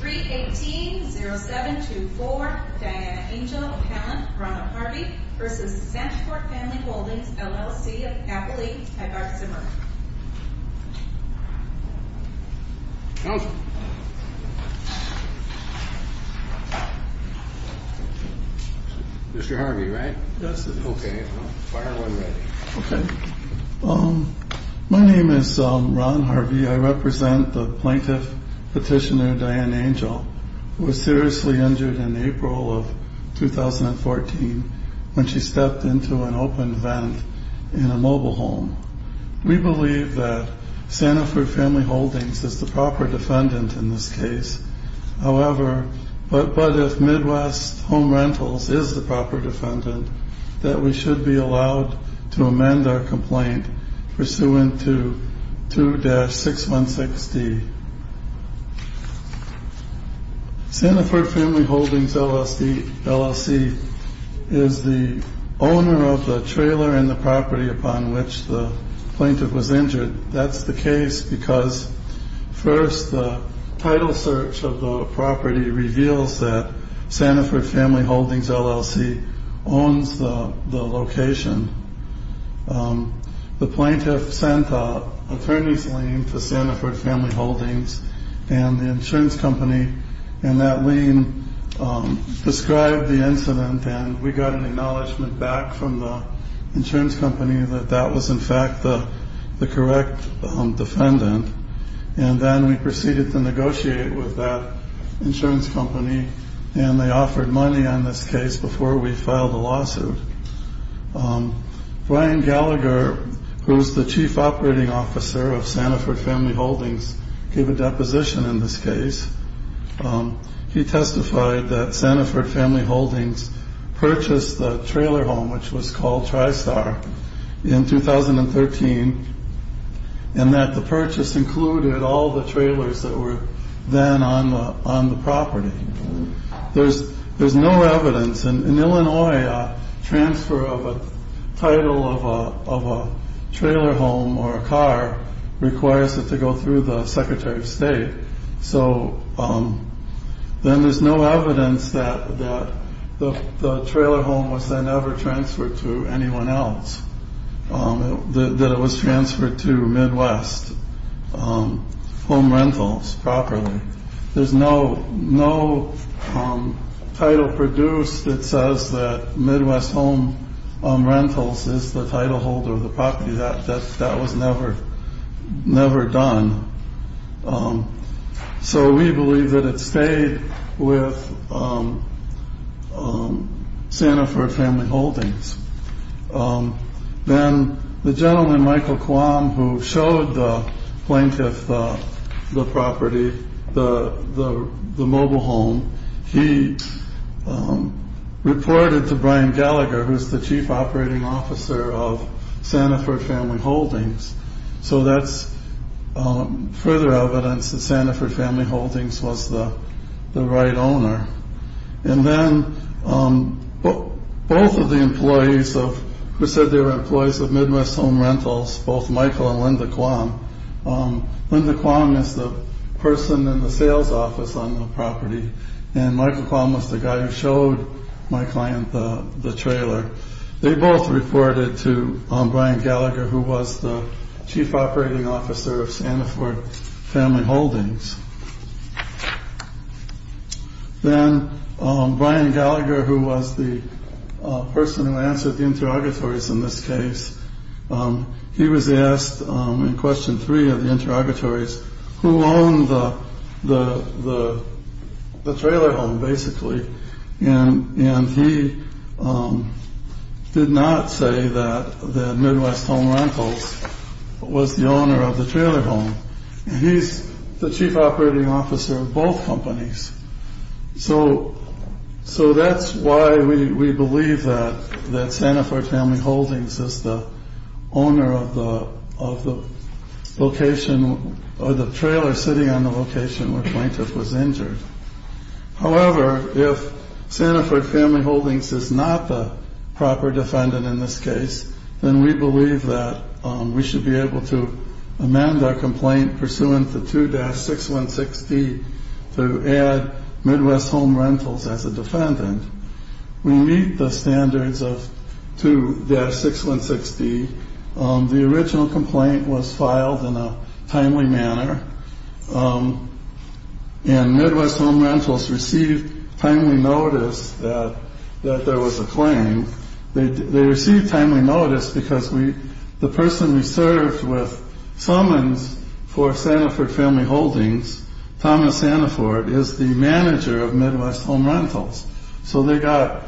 318-0724, Diana Angell, appellant, Ronald Harvey v. Santefort Family Holdings, LLC, Appalooke, Hyde Park, Suburban Counsel Mr. Harvey, right? That's it Okay, fire when ready Okay My name is Ron Harvey, I represent the plaintiff petitioner Diana Angell who was seriously injured in April of 2014 when she stepped into an open vent in a mobile home We believe that Santefort Family Holdings is the proper defendant in this case However, but if Midwest Home Rentals is the proper defendant, that we should be allowed to amend our complaint pursuant to 2-616D Santefort Family Holdings, LLC, is the owner of the trailer in the property upon which the plaintiff was injured That's the case because first the title search of the property reveals that Santefort Family Holdings, LLC, owns the location The plaintiff sent an attorney's lien to Santefort Family Holdings and the insurance company And that lien prescribed the incident and we got an acknowledgement back from the insurance company that that was in fact the correct defendant And then we proceeded to negotiate with that insurance company and they offered money on this case before we filed a lawsuit Brian Gallagher, who is the Chief Operating Officer of Santefort Family Holdings, gave a deposition in this case He testified that Santefort Family Holdings purchased the trailer home, which was called TriStar, in 2013 And that the purchase included all the trailers that were then on the property There's no evidence, in Illinois, a transfer of a title of a trailer home or a car requires it to go through the Secretary of State So then there's no evidence that the trailer home was then ever transferred to anyone else That it was transferred to Midwest Home Rentals properly There's no title produced that says that Midwest Home Rentals is the title holder of the property That was never done So we believe that it stayed with Santefort Family Holdings Then the gentleman, Michael Quam, who showed the plaintiff the property, the mobile home He reported to Brian Gallagher, who is the Chief Operating Officer of Santefort Family Holdings So that's further evidence that Santefort Family Holdings was the right owner And then both of the employees of Midwest Home Rentals, both Michael and Linda Quam Linda Quam is the person in the sales office on the property And Michael Quam was the guy who showed my client the trailer They both reported to Brian Gallagher, who was the Chief Operating Officer of Santefort Family Holdings Then Brian Gallagher, who was the person who answered the interrogatories in this case He was asked, in question three of the interrogatories, who owned the trailer home, basically And he did not say that Midwest Home Rentals was the owner of the trailer home He's the Chief Operating Officer of both companies So that's why we believe that Santefort Family Holdings is the owner of the location Or the trailer sitting on the location where the plaintiff was injured However, if Santefort Family Holdings is not the proper defendant in this case Then we believe that we should be able to amend our complaint pursuant to 2-616D To add Midwest Home Rentals as a defendant We meet the standards of 2-616D The original complaint was filed in a timely manner And Midwest Home Rentals received timely notice that there was a claim They received timely notice because the person we served with summons for Santefort Family Holdings Thomas Santefort, is the manager of Midwest Home Rentals So they got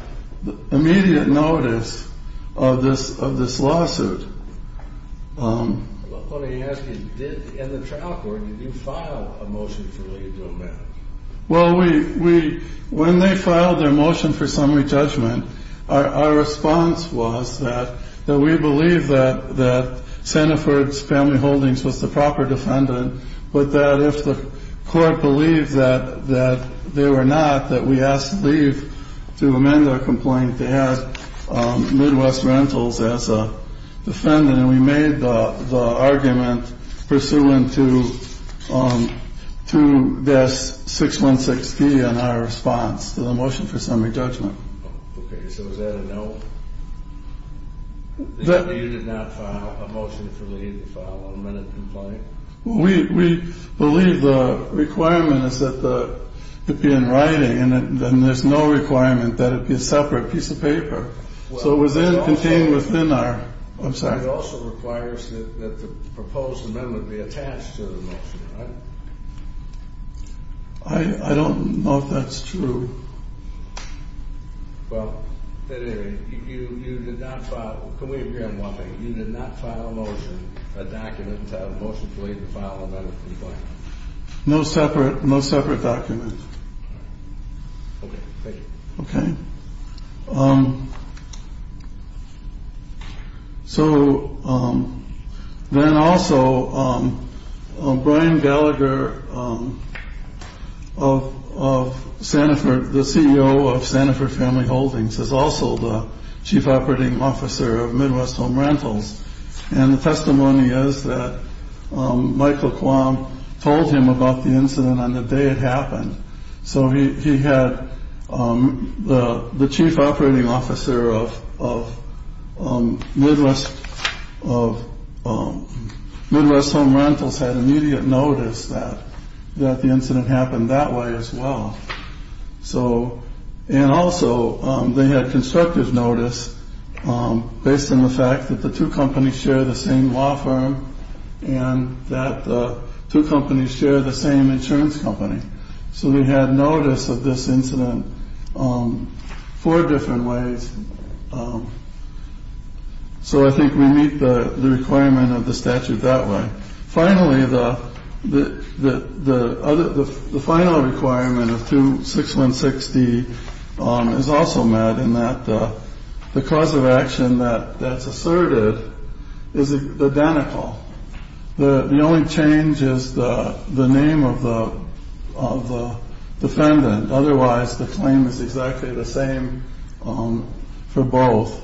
immediate notice of this lawsuit I want to ask you, in the trial court, did you file a motion to remove them? Well, when they filed their motion for summary judgment Our response was that we believe that Santefort Family Holdings was the proper defendant But that if the court believes that they were not That we have to leave to amend our complaint To add Midwest Rentals as a defendant And we made the argument pursuant to 2-616D in our response to the motion for summary judgment Okay, so was that a no? You did not file a motion for leave to file a amended complaint? We believe the requirement is that it be in writing And there's no requirement that it be a separate piece of paper So it was contained within our, I'm sorry It also requires that the proposed amendment be attached to the motion, right? I don't know if that's true Well, at any rate, you did not file, can we agree on one thing? You did not file a motion, a document to have a motion to leave to file an amended complaint No separate document Okay, thank you Okay So, then also, Brian Gallagher Of Santefort, the CEO of Santefort Family Holdings Is also the Chief Operating Officer of Midwest Home Rentals And the testimony is that Michael Quam told him about the incident on the day it happened So he had the Chief Operating Officer of Midwest Home Rentals Had immediate notice that the incident happened that way as well So, and also, they had constructive notice Based on the fact that the two companies share the same law firm And that the two companies share the same insurance company So they had notice of this incident four different ways So I think we meet the requirement of the statute that way Finally, the final requirement of 616D is also met And that the cause of action that's asserted is identical The only change is the name of the defendant Otherwise, the claim is exactly the same for both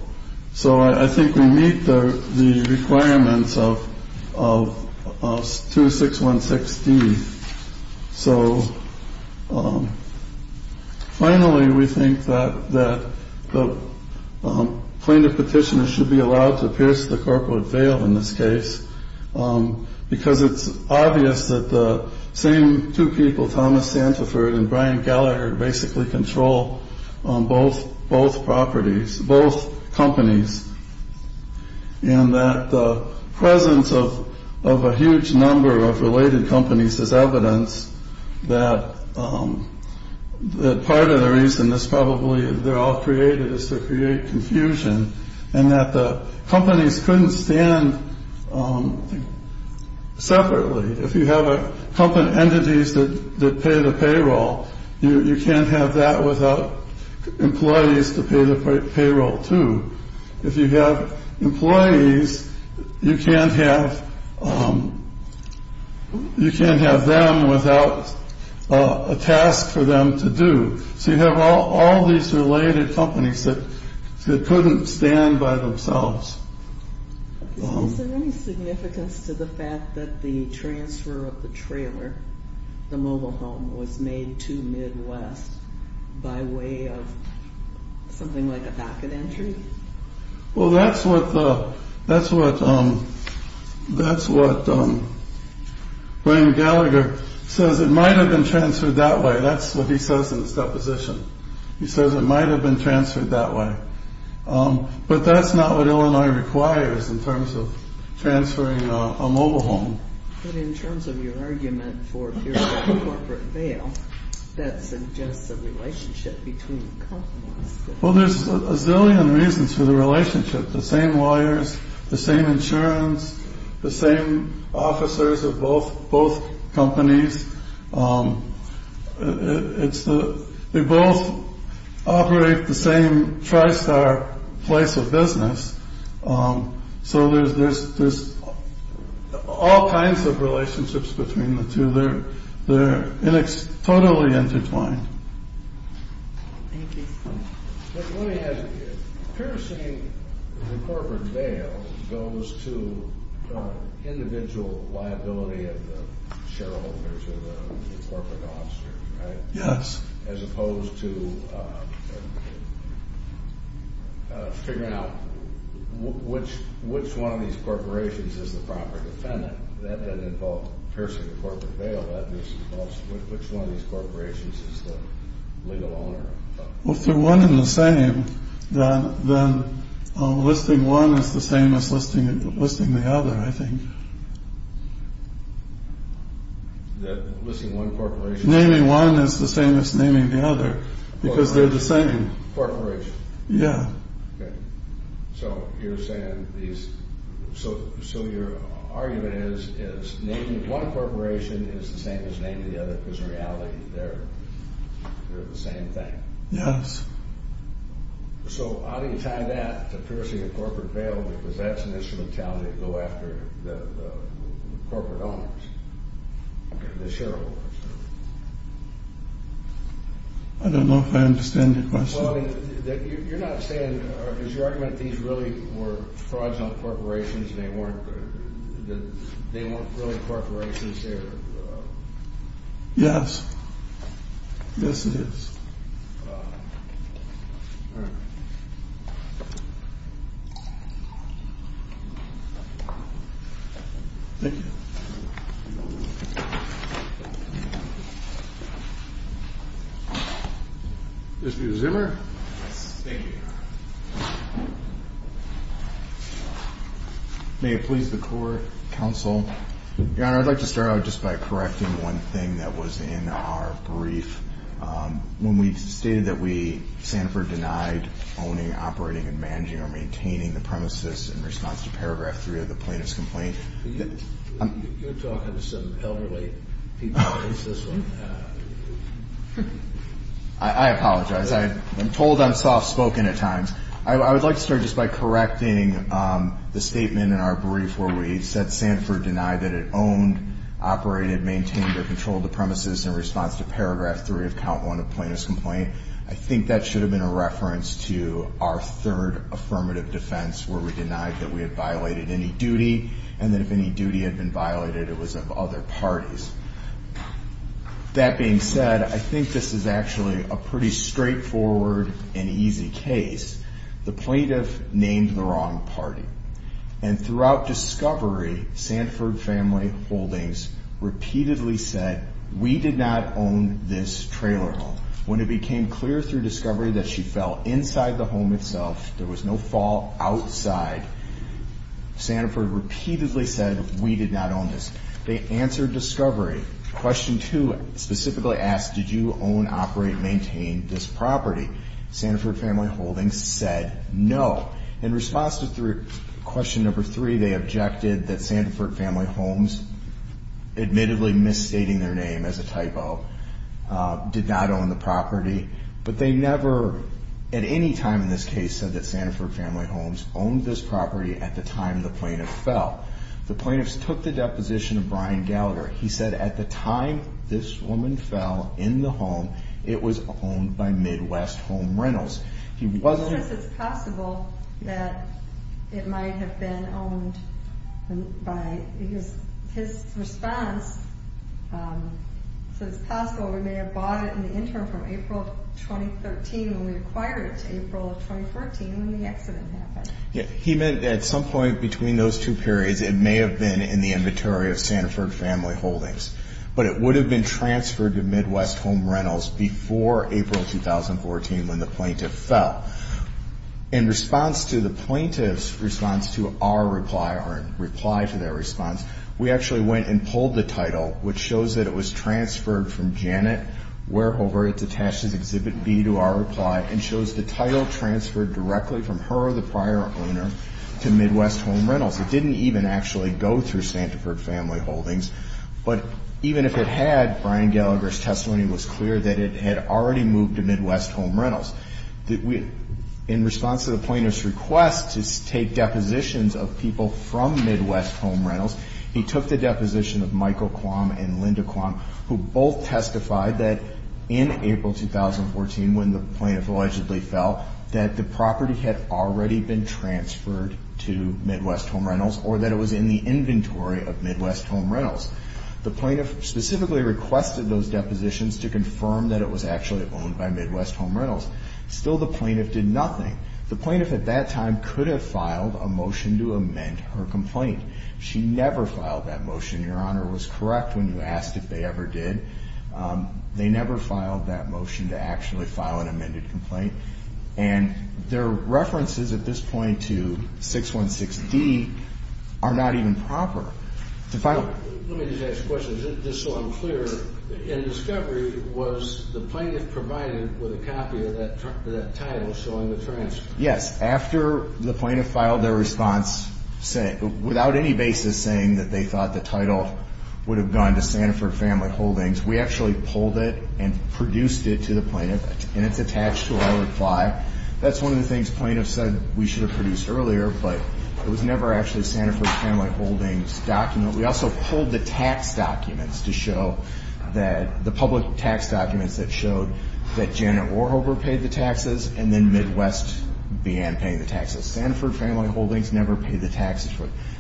So I think we meet the requirements of 2616D So, finally, we think that the plaintiff petitioner should be allowed to pierce the corporate veil in this case Because it's obvious that the same two people, Thomas Santefort and Brian Gallagher Basically control both properties, both companies And that the presence of a huge number of related companies is evidence That part of the reason they're all created is to create confusion And that the companies couldn't stand separately If you have entities that pay the payroll You can't have that without employees to pay the payroll too If you have employees, you can't have them without a task for them to do So you have all these related companies that couldn't stand by themselves Is there any significance to the fact that the transfer of the trailer, the mobile home Was made to Midwest by way of something like a back-end entry? Well, that's what Brian Gallagher says It might have been transferred that way That's what he says in his deposition He says it might have been transferred that way But that's not what Illinois requires in terms of transferring a mobile home But in terms of your argument for corporate bail That suggests a relationship between companies Well, there's a zillion reasons for the relationship The same lawyers, the same insurance, the same officers of both companies They both operate the same tri-star place of business So there's all kinds of relationships between the two They're totally intertwined Let me ask you Purchasing the corporate bail goes to individual liability of the shareholders Or the corporate officers, right? Yes As opposed to figuring out which one of these corporations is the proper defendant That would involve purchasing the corporate bail That involves which one of these corporations is the legal owner Well, if they're one and the same Then listing one is the same as listing the other, I think Listing one corporation? Naming one is the same as naming the other Because they're the same Corporation? Yeah Okay So you're saying these So your argument is One corporation is the same as naming the other Because in reality they're the same thing Yes So how do you tie that to purchasing a corporate bail? Because that's an instrumentality to go after the corporate owners The shareholders I don't know if I understand your question You're not saying Is your argument that these really were fraudulent corporations And they weren't really corporations? Yes Yes, it is All right Thank you Mr. Zimmer Yes, thank you May it please the court, counsel Your honor, I'd like to start out just by correcting one thing that was in our brief When we stated that we, Sanford denied owning, operating, and managing or maintaining the premises In response to paragraph three of the plaintiff's complaint You're talking to some elderly people I apologize I'm told I'm soft spoken at times I would like to start just by correcting the statement in our brief Where we said Sanford denied that it owned, operated, maintained or controlled the premises In response to paragraph three of count one of the plaintiff's complaint I think that should have been a reference to our third affirmative defense Where we denied that we had violated any duty And that if any duty had been violated, it was of other parties That being said, I think this is actually a pretty straightforward and easy case The plaintiff named the wrong party And throughout discovery, Sanford Family Holdings repeatedly said We did not own this trailer home When it became clear through discovery that she fell inside the home itself There was no fall outside Sanford repeatedly said we did not own this They answered discovery Question two specifically asked did you own, operate, maintain this property Sanford Family Holdings said no In response to question number three, they objected that Sanford Family Homes Admittedly misstating their name as a typo Did not own the property But they never at any time in this case said that Sanford Family Homes Owned this property at the time the plaintiff fell The plaintiffs took the deposition of Brian Gallagher He said at the time this woman fell in the home It was owned by Midwest Home Rentals He says it's possible that it might have been owned His response says it's possible we may have bought it in the interim From April 2013 when we acquired it To April 2014 when the accident happened He meant at some point between those two periods It may have been in the inventory of Sanford Family Holdings But it would have been transferred to Midwest Home Rentals Before April 2014 when the plaintiff fell In response to the plaintiff's response to our reply Our reply to their response We actually went and pulled the title Which shows that it was transferred from Janet Warehover It's attached as Exhibit B to our reply And shows the title transferred directly from her or the prior owner To Midwest Home Rentals It didn't even actually go through Sanford Family Holdings But even if it had, Brian Gallagher's testimony was clear That it had already moved to Midwest Home Rentals In response to the plaintiff's request To take depositions of people from Midwest Home Rentals He took the deposition of Michael Quam and Linda Quam Who both testified that in April 2014 When the plaintiff allegedly fell That the property had already been transferred to Midwest Home Rentals Or that it was in the inventory of Midwest Home Rentals The plaintiff specifically requested those depositions To confirm that it was actually owned by Midwest Home Rentals Still the plaintiff did nothing The plaintiff at that time could have filed a motion to amend her complaint She never filed that motion Your Honor was correct when you asked if they ever did They never filed that motion to actually file an amended complaint Their references at this point to 616D are not even proper Let me just ask a question, just so I'm clear In discovery, was the plaintiff provided with a copy of that title showing the transfer? Yes, after the plaintiff filed their response Without any basis saying that they thought the title Would have gone to Sanford Family Holdings We actually pulled it and produced it to the plaintiff And it's attached to our reply That's one of the things the plaintiff said we should have produced earlier But it was never actually a Sanford Family Holdings document We also pulled the tax documents to show The public tax documents that showed That Janet Warhofer paid the taxes And then Midwest began paying the taxes Sanford Family Holdings never paid the taxes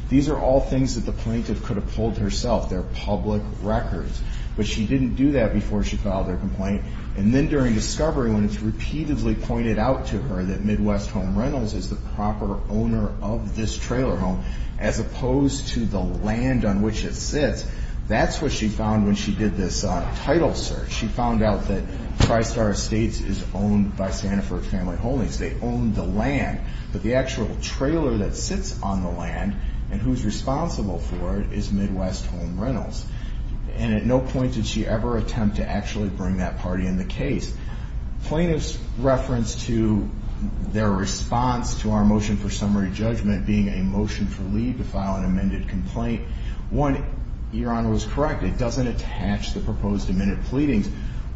These are all things that the plaintiff could have pulled herself They're public records But she didn't do that before she filed her complaint And then during discovery, when it's repeatedly pointed out to her That Midwest Home Rentals is the proper owner of this trailer home As opposed to the land on which it sits That's what she found when she did this title search She found out that TriStar Estates is owned by Sanford Family Holdings They own the land But the actual trailer that sits on the land And who's responsible for it is Midwest Home Rentals And at no point did she ever attempt to actually bring that party in the case Plaintiff's reference to their response to our motion for summary judgment Being a motion for leave to file an amended complaint One, Your Honor was correct It doesn't attach the proposed amended pleadings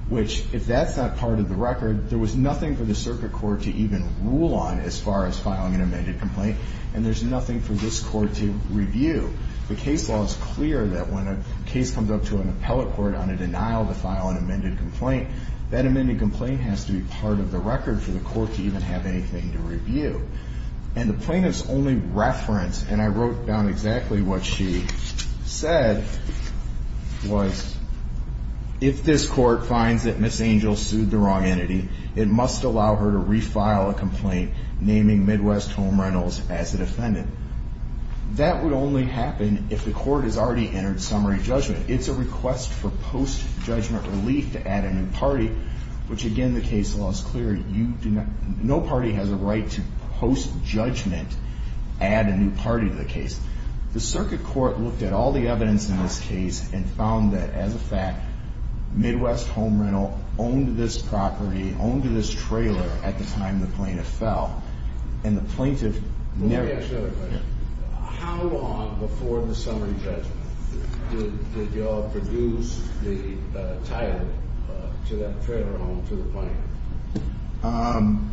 Which, if that's not part of the record There was nothing for the circuit court to even rule on As far as filing an amended complaint And there's nothing for this court to review The case law is clear that when a case comes up to an appellate court On a denial to file an amended complaint That amended complaint has to be part of the record For the court to even have anything to review And the plaintiff's only reference And I wrote down exactly what she said Was, if this court finds that Ms. Angel sued the wrong entity It must allow her to refile a complaint Naming Midwest Home Rentals as the defendant That would only happen if the court has already entered summary judgment It's a request for post-judgment relief to add a new party Which again, the case law is clear No party has a right to post-judgment add a new party to the case The circuit court looked at all the evidence in this case And found that, as a fact Midwest Home Rental owned this property Owned this trailer at the time the plaintiff fell And the plaintiff never... Let me ask you another question How long before the summary judgment Did y'all produce the title to that trailer home to the plaintiff?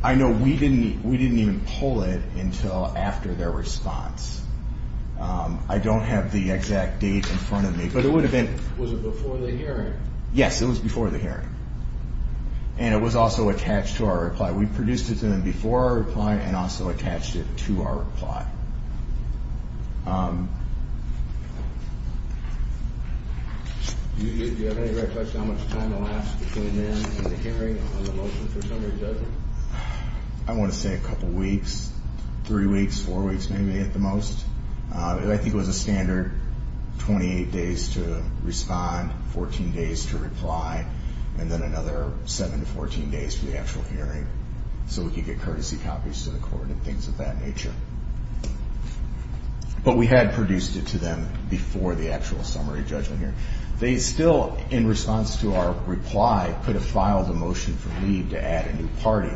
I know we didn't even pull it until after their response I don't have the exact date in front of me But it would have been... Was it before the hearing? Yes, it was before the hearing And it was also attached to our reply We produced it to them before our reply And also attached it to our reply Do you have any recollection of how much time it'll last Between then and the hearing on the motion for summary judgment? I want to say a couple weeks Three weeks, four weeks maybe at the most I think it was a standard 28 days to respond 14 days to reply And then another 7 to 14 days for the actual hearing So we could get courtesy copies to the court And things of that nature But we had produced it to them Before the actual summary judgment hearing They still, in response to our reply Could have filed a motion for leave to add a new party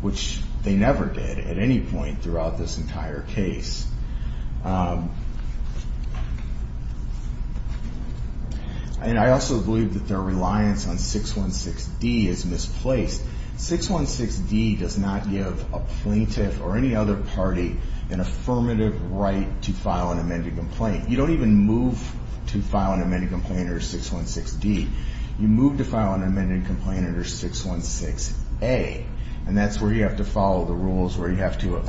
Which they never did at any point Throughout this entire case And I also believe that their reliance on 616D is misplaced 616D does not give a plaintiff or any other party An affirmative right to file an amended complaint You don't even move to file an amended complaint under 616D You move to file an amended complaint under 616A And that's where you have to follow the rules You have to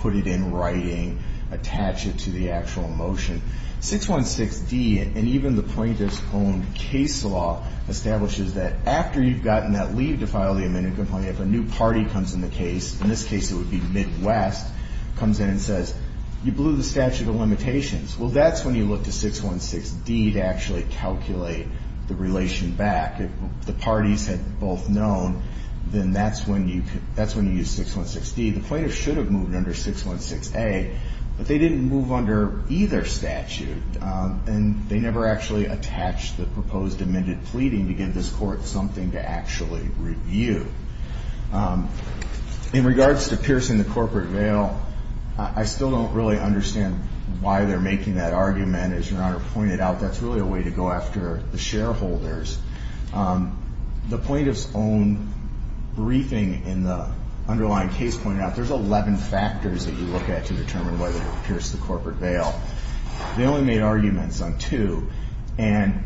put it in writing Attach it to the actual motion 616D and even the plaintiff's own case law Establishes that after you've gotten that leave to file the amended complaint If a new party comes in the case In this case it would be Midwest Comes in and says You blew the statute of limitations Well that's when you look to 616D To actually calculate the relation back If the parties had both known Then that's when you use 616D The plaintiff should have moved under 616A But they didn't move under either statute And they never actually attached the proposed amended pleading To give this court something to actually review In regards to piercing the corporate veil I still don't really understand why they're making that argument As your honor pointed out That's really a way to go after the shareholders The plaintiff's own briefing in the underlying case pointed out There's 11 factors that you look at To determine whether to pierce the corporate veil They only made arguments on two And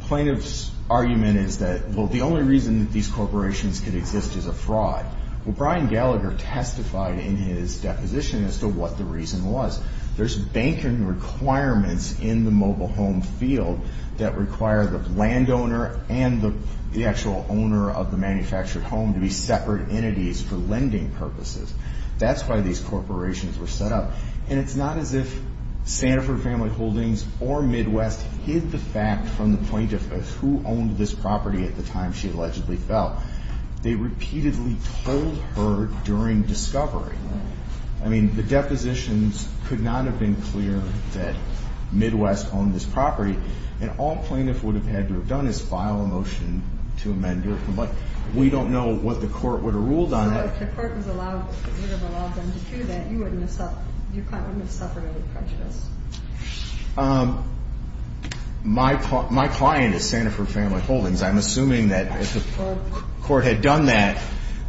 plaintiff's argument is that Well the only reason that these corporations could exist is a fraud Well Brian Gallagher testified in his deposition As to what the reason was There's banking requirements in the mobile home field That require the landowner And the actual owner of the manufactured home To be separate entities for lending purposes That's why these corporations were set up And it's not as if Sanford Family Holdings or Midwest Hid the fact from the plaintiff Of who owned this property at the time she allegedly fell They repeatedly told her during discovery I mean the depositions could not have been clear That Midwest owned this property And all plaintiff would have had to have done Is file a motion to amend their complaint We don't know what the court would have ruled on that So if the court would have allowed them to do that Your client wouldn't have suffered any prejudice My client is Sanford Family Holdings I'm assuming that if the court had done that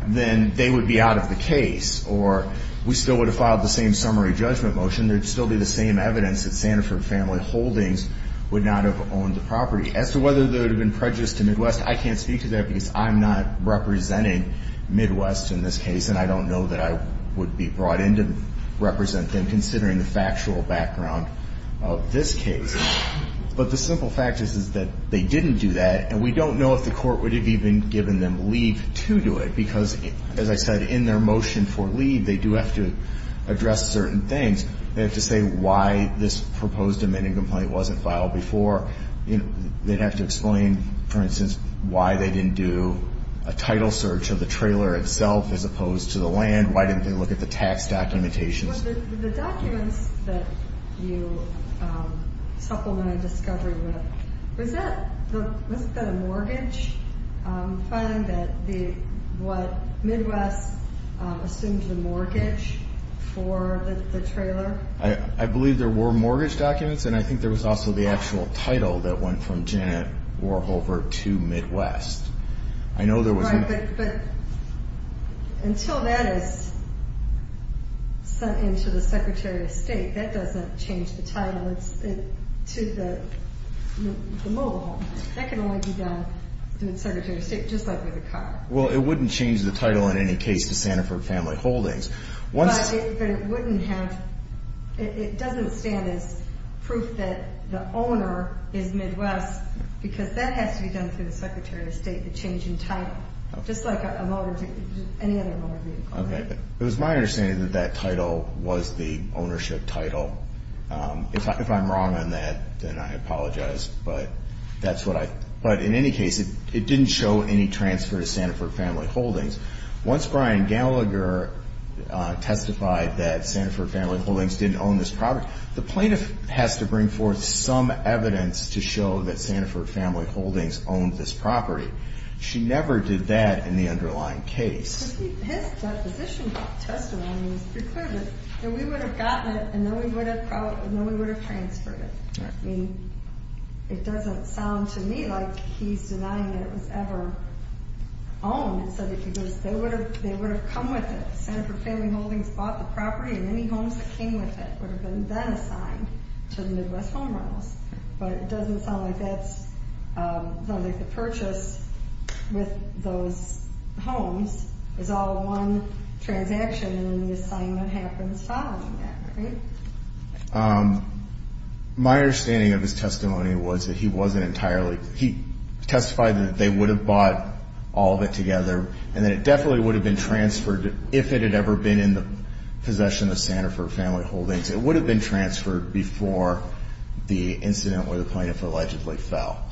Then they would be out of the case Or we still would have filed the same summary judgment motion There'd still be the same evidence That Sanford Family Holdings would not have owned the property As to whether there would have been prejudice to Midwest I can't speak to that because I'm not representing Midwest in this case And I don't know that I would be brought in to represent them Considering the factual background of this case But the simple fact is that they didn't do that And we don't know if the court would have even given them leave to do it Because as I said in their motion for leave They do have to address certain things They have to say why this proposed amending complaint wasn't filed before They'd have to explain for instance Why they didn't do a title search of the trailer itself As opposed to the land Why didn't they look at the tax documentation The documents that you supplemented discovery with Was that a mortgage Finding that what Midwest assumed was a mortgage For the trailer I believe there were mortgage documents And I think there was also the actual title That went from Janet Warhofer to Midwest I know there was Right but until that is sent in to the Secretary of State That doesn't change the title to the mobile home That can only be done through the Secretary of State Just like with a car Well it wouldn't change the title in any case to Sanford Family Holdings But it doesn't stand as proof that the owner is Midwest Because that has to be done through the Secretary of State The change in title Just like any other motor vehicle It was my understanding that that title was the ownership title If I'm wrong on that then I apologize But in any case it didn't show any transfer to Sanford Family Holdings Once Brian Gallagher testified that Sanford Family Holdings didn't own this property The plaintiff has to bring forth some evidence To show that Sanford Family Holdings owned this property She never did that in the underlying case His deposition testimony was pretty clear That we would have gotten it and then we would have transferred it It doesn't sound to me like he's denying that it was ever owned They would have come with it Sanford Family Holdings bought the property And any homes that came with it would have been then assigned to the Midwest Home Owners But it doesn't sound like the purchase with those homes is all one transaction And then the assignment happens following that, right? My understanding of his testimony was that he wasn't entirely He testified that they would have bought all of it together And that it definitely would have been transferred If it had ever been in the possession of Sanford Family Holdings It would have been transferred before the incident where the plaintiff allegedly fell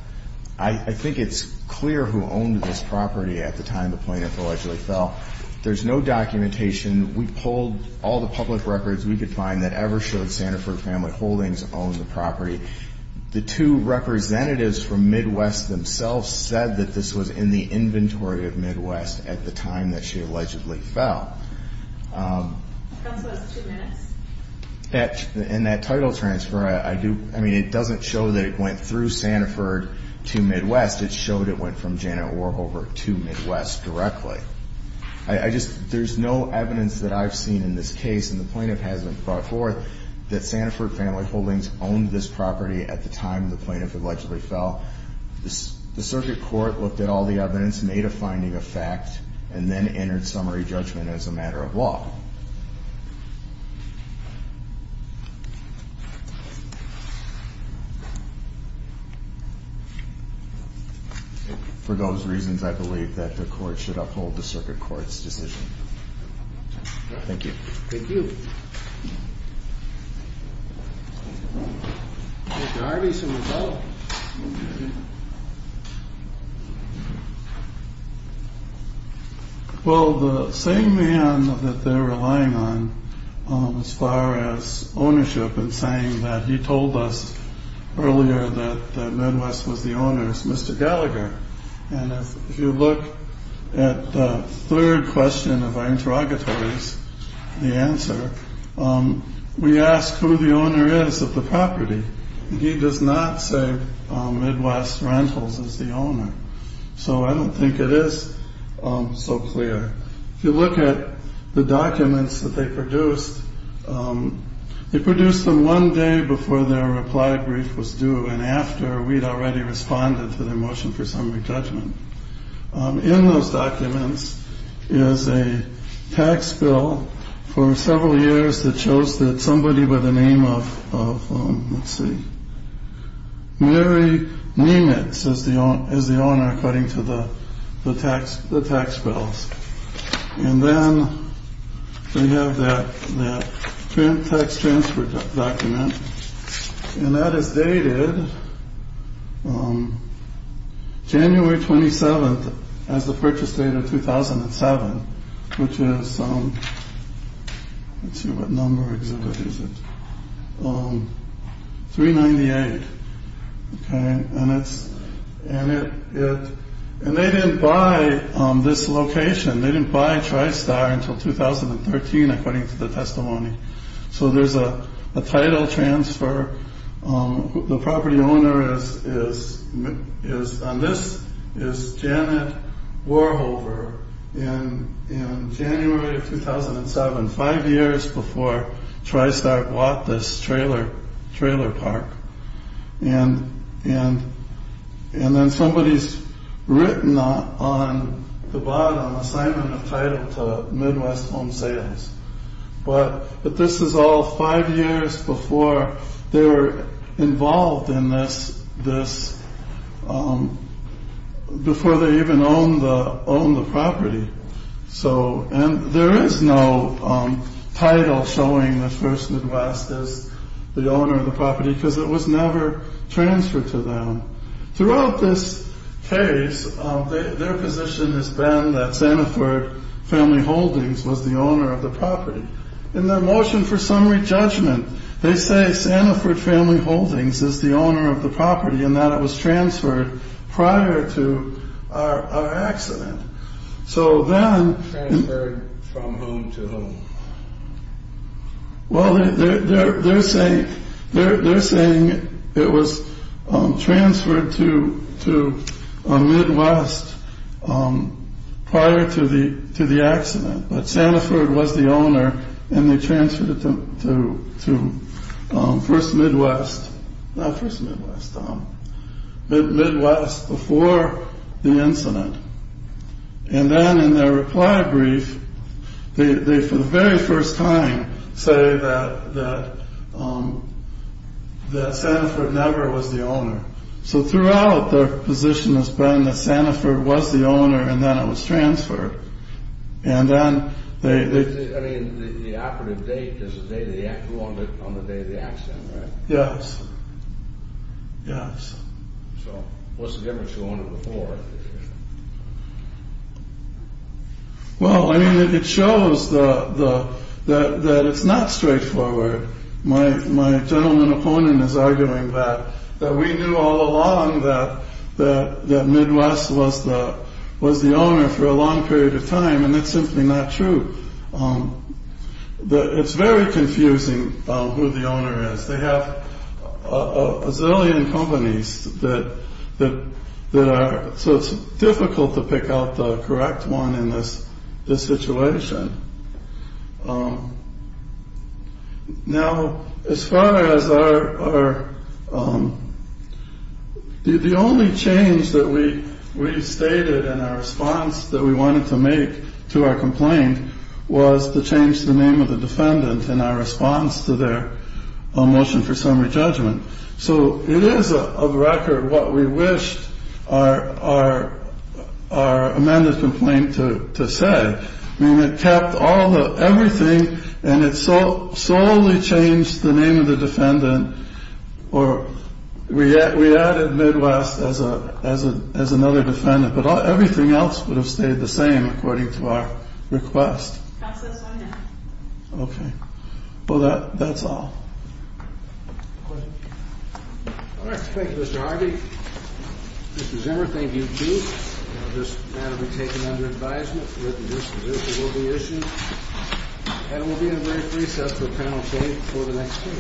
I think it's clear who owned this property at the time the plaintiff allegedly fell There's no documentation We pulled all the public records we could find That ever showed Sanford Family Holdings owned the property The two representatives from Midwest themselves said That this was in the inventory of Midwest at the time that she allegedly fell And that title transfer It doesn't show that it went through Sanford to Midwest It showed it went from Janet Warhofer to Midwest directly There's no evidence that I've seen in this case And the plaintiff hasn't brought forth That Sanford Family Holdings owned this property at the time the plaintiff allegedly fell The circuit court looked at all the evidence Made a finding of fact And then entered summary judgment as a matter of law For those reasons I believe that the court should uphold the circuit court's decision Thank you Thank you Well the same man that they're relying on As far as ownership And saying that he told us earlier that Midwest was the owner Is Mr. Gallagher And if you look at the third question of our interrogatories The answer We ask who the owner is of the property He does not say Midwest Rentals is the owner So I don't think it is so clear If you look at the documents that they produced They produced them one day before their reply brief was due And after we'd already responded to their motion for summary judgment In those documents is a tax bill For several years that shows that somebody with a name of Let's see Mary Nemitz is the owner according to the tax bills And then We have that Tax transfer document And that is dated January 27th As the purchase date of 2007 Which is Let's see what number exhibit is it 398 And it's And they didn't buy this location They didn't buy Tristar until 2013 according to the testimony So there's a title transfer The property owner is And this is Janet Warhofer In January of 2007 Five years before Tristar bought this trailer park And then somebody's written on the bottom Assignment of title to Midwest Home Sales But this is all five years before They were involved in this Before they even own the property So there is no title showing that First Midwest is the owner of the property Because it was never transferred to them Throughout this case Their position has been that Sanford Family Holdings Was the owner of the property In their motion for summary judgment They say Sanford Family Holdings is the owner of the property And that it was transferred prior to our accident So then Transferred from whom to whom Well they're saying It was transferred to Midwest Prior to the accident But Sanford was the owner And they transferred it to First Midwest Not First Midwest Midwest before the incident And then in their reply brief They for the very first time Say that Sanford never was the owner So throughout their position has been That Sanford was the owner And then it was transferred And then I mean the operative date Is the day of the accident On the day of the accident right? Yes Yes So what's the difference to own it before? Well I mean it shows That it's not straightforward My gentleman opponent is arguing that That we knew all along that That Midwest was the owner For a long period of time And that's simply not true It's very confusing Who the owner is They have a zillion companies That are So it's difficult to pick out the correct one In this situation Now as far as our The only change that we stated In our response that we wanted to make To our complaint Was to change the name of the defendant In our response to their Motion for summary judgment So it is of record what we wished Our amended complaint to say I mean it kept all the Everything And it solely changed The name of the defendant Or We added Midwest As another defendant But everything else would have stayed the same According to our request Counsel is on hand Okay Well that's all Alright thank you Mr. Harvey Mr. Zimmer thank you too This matter will be taken under advisement That the written disposition will be issued And we'll be in a brief recess For panel debate for the next two weeks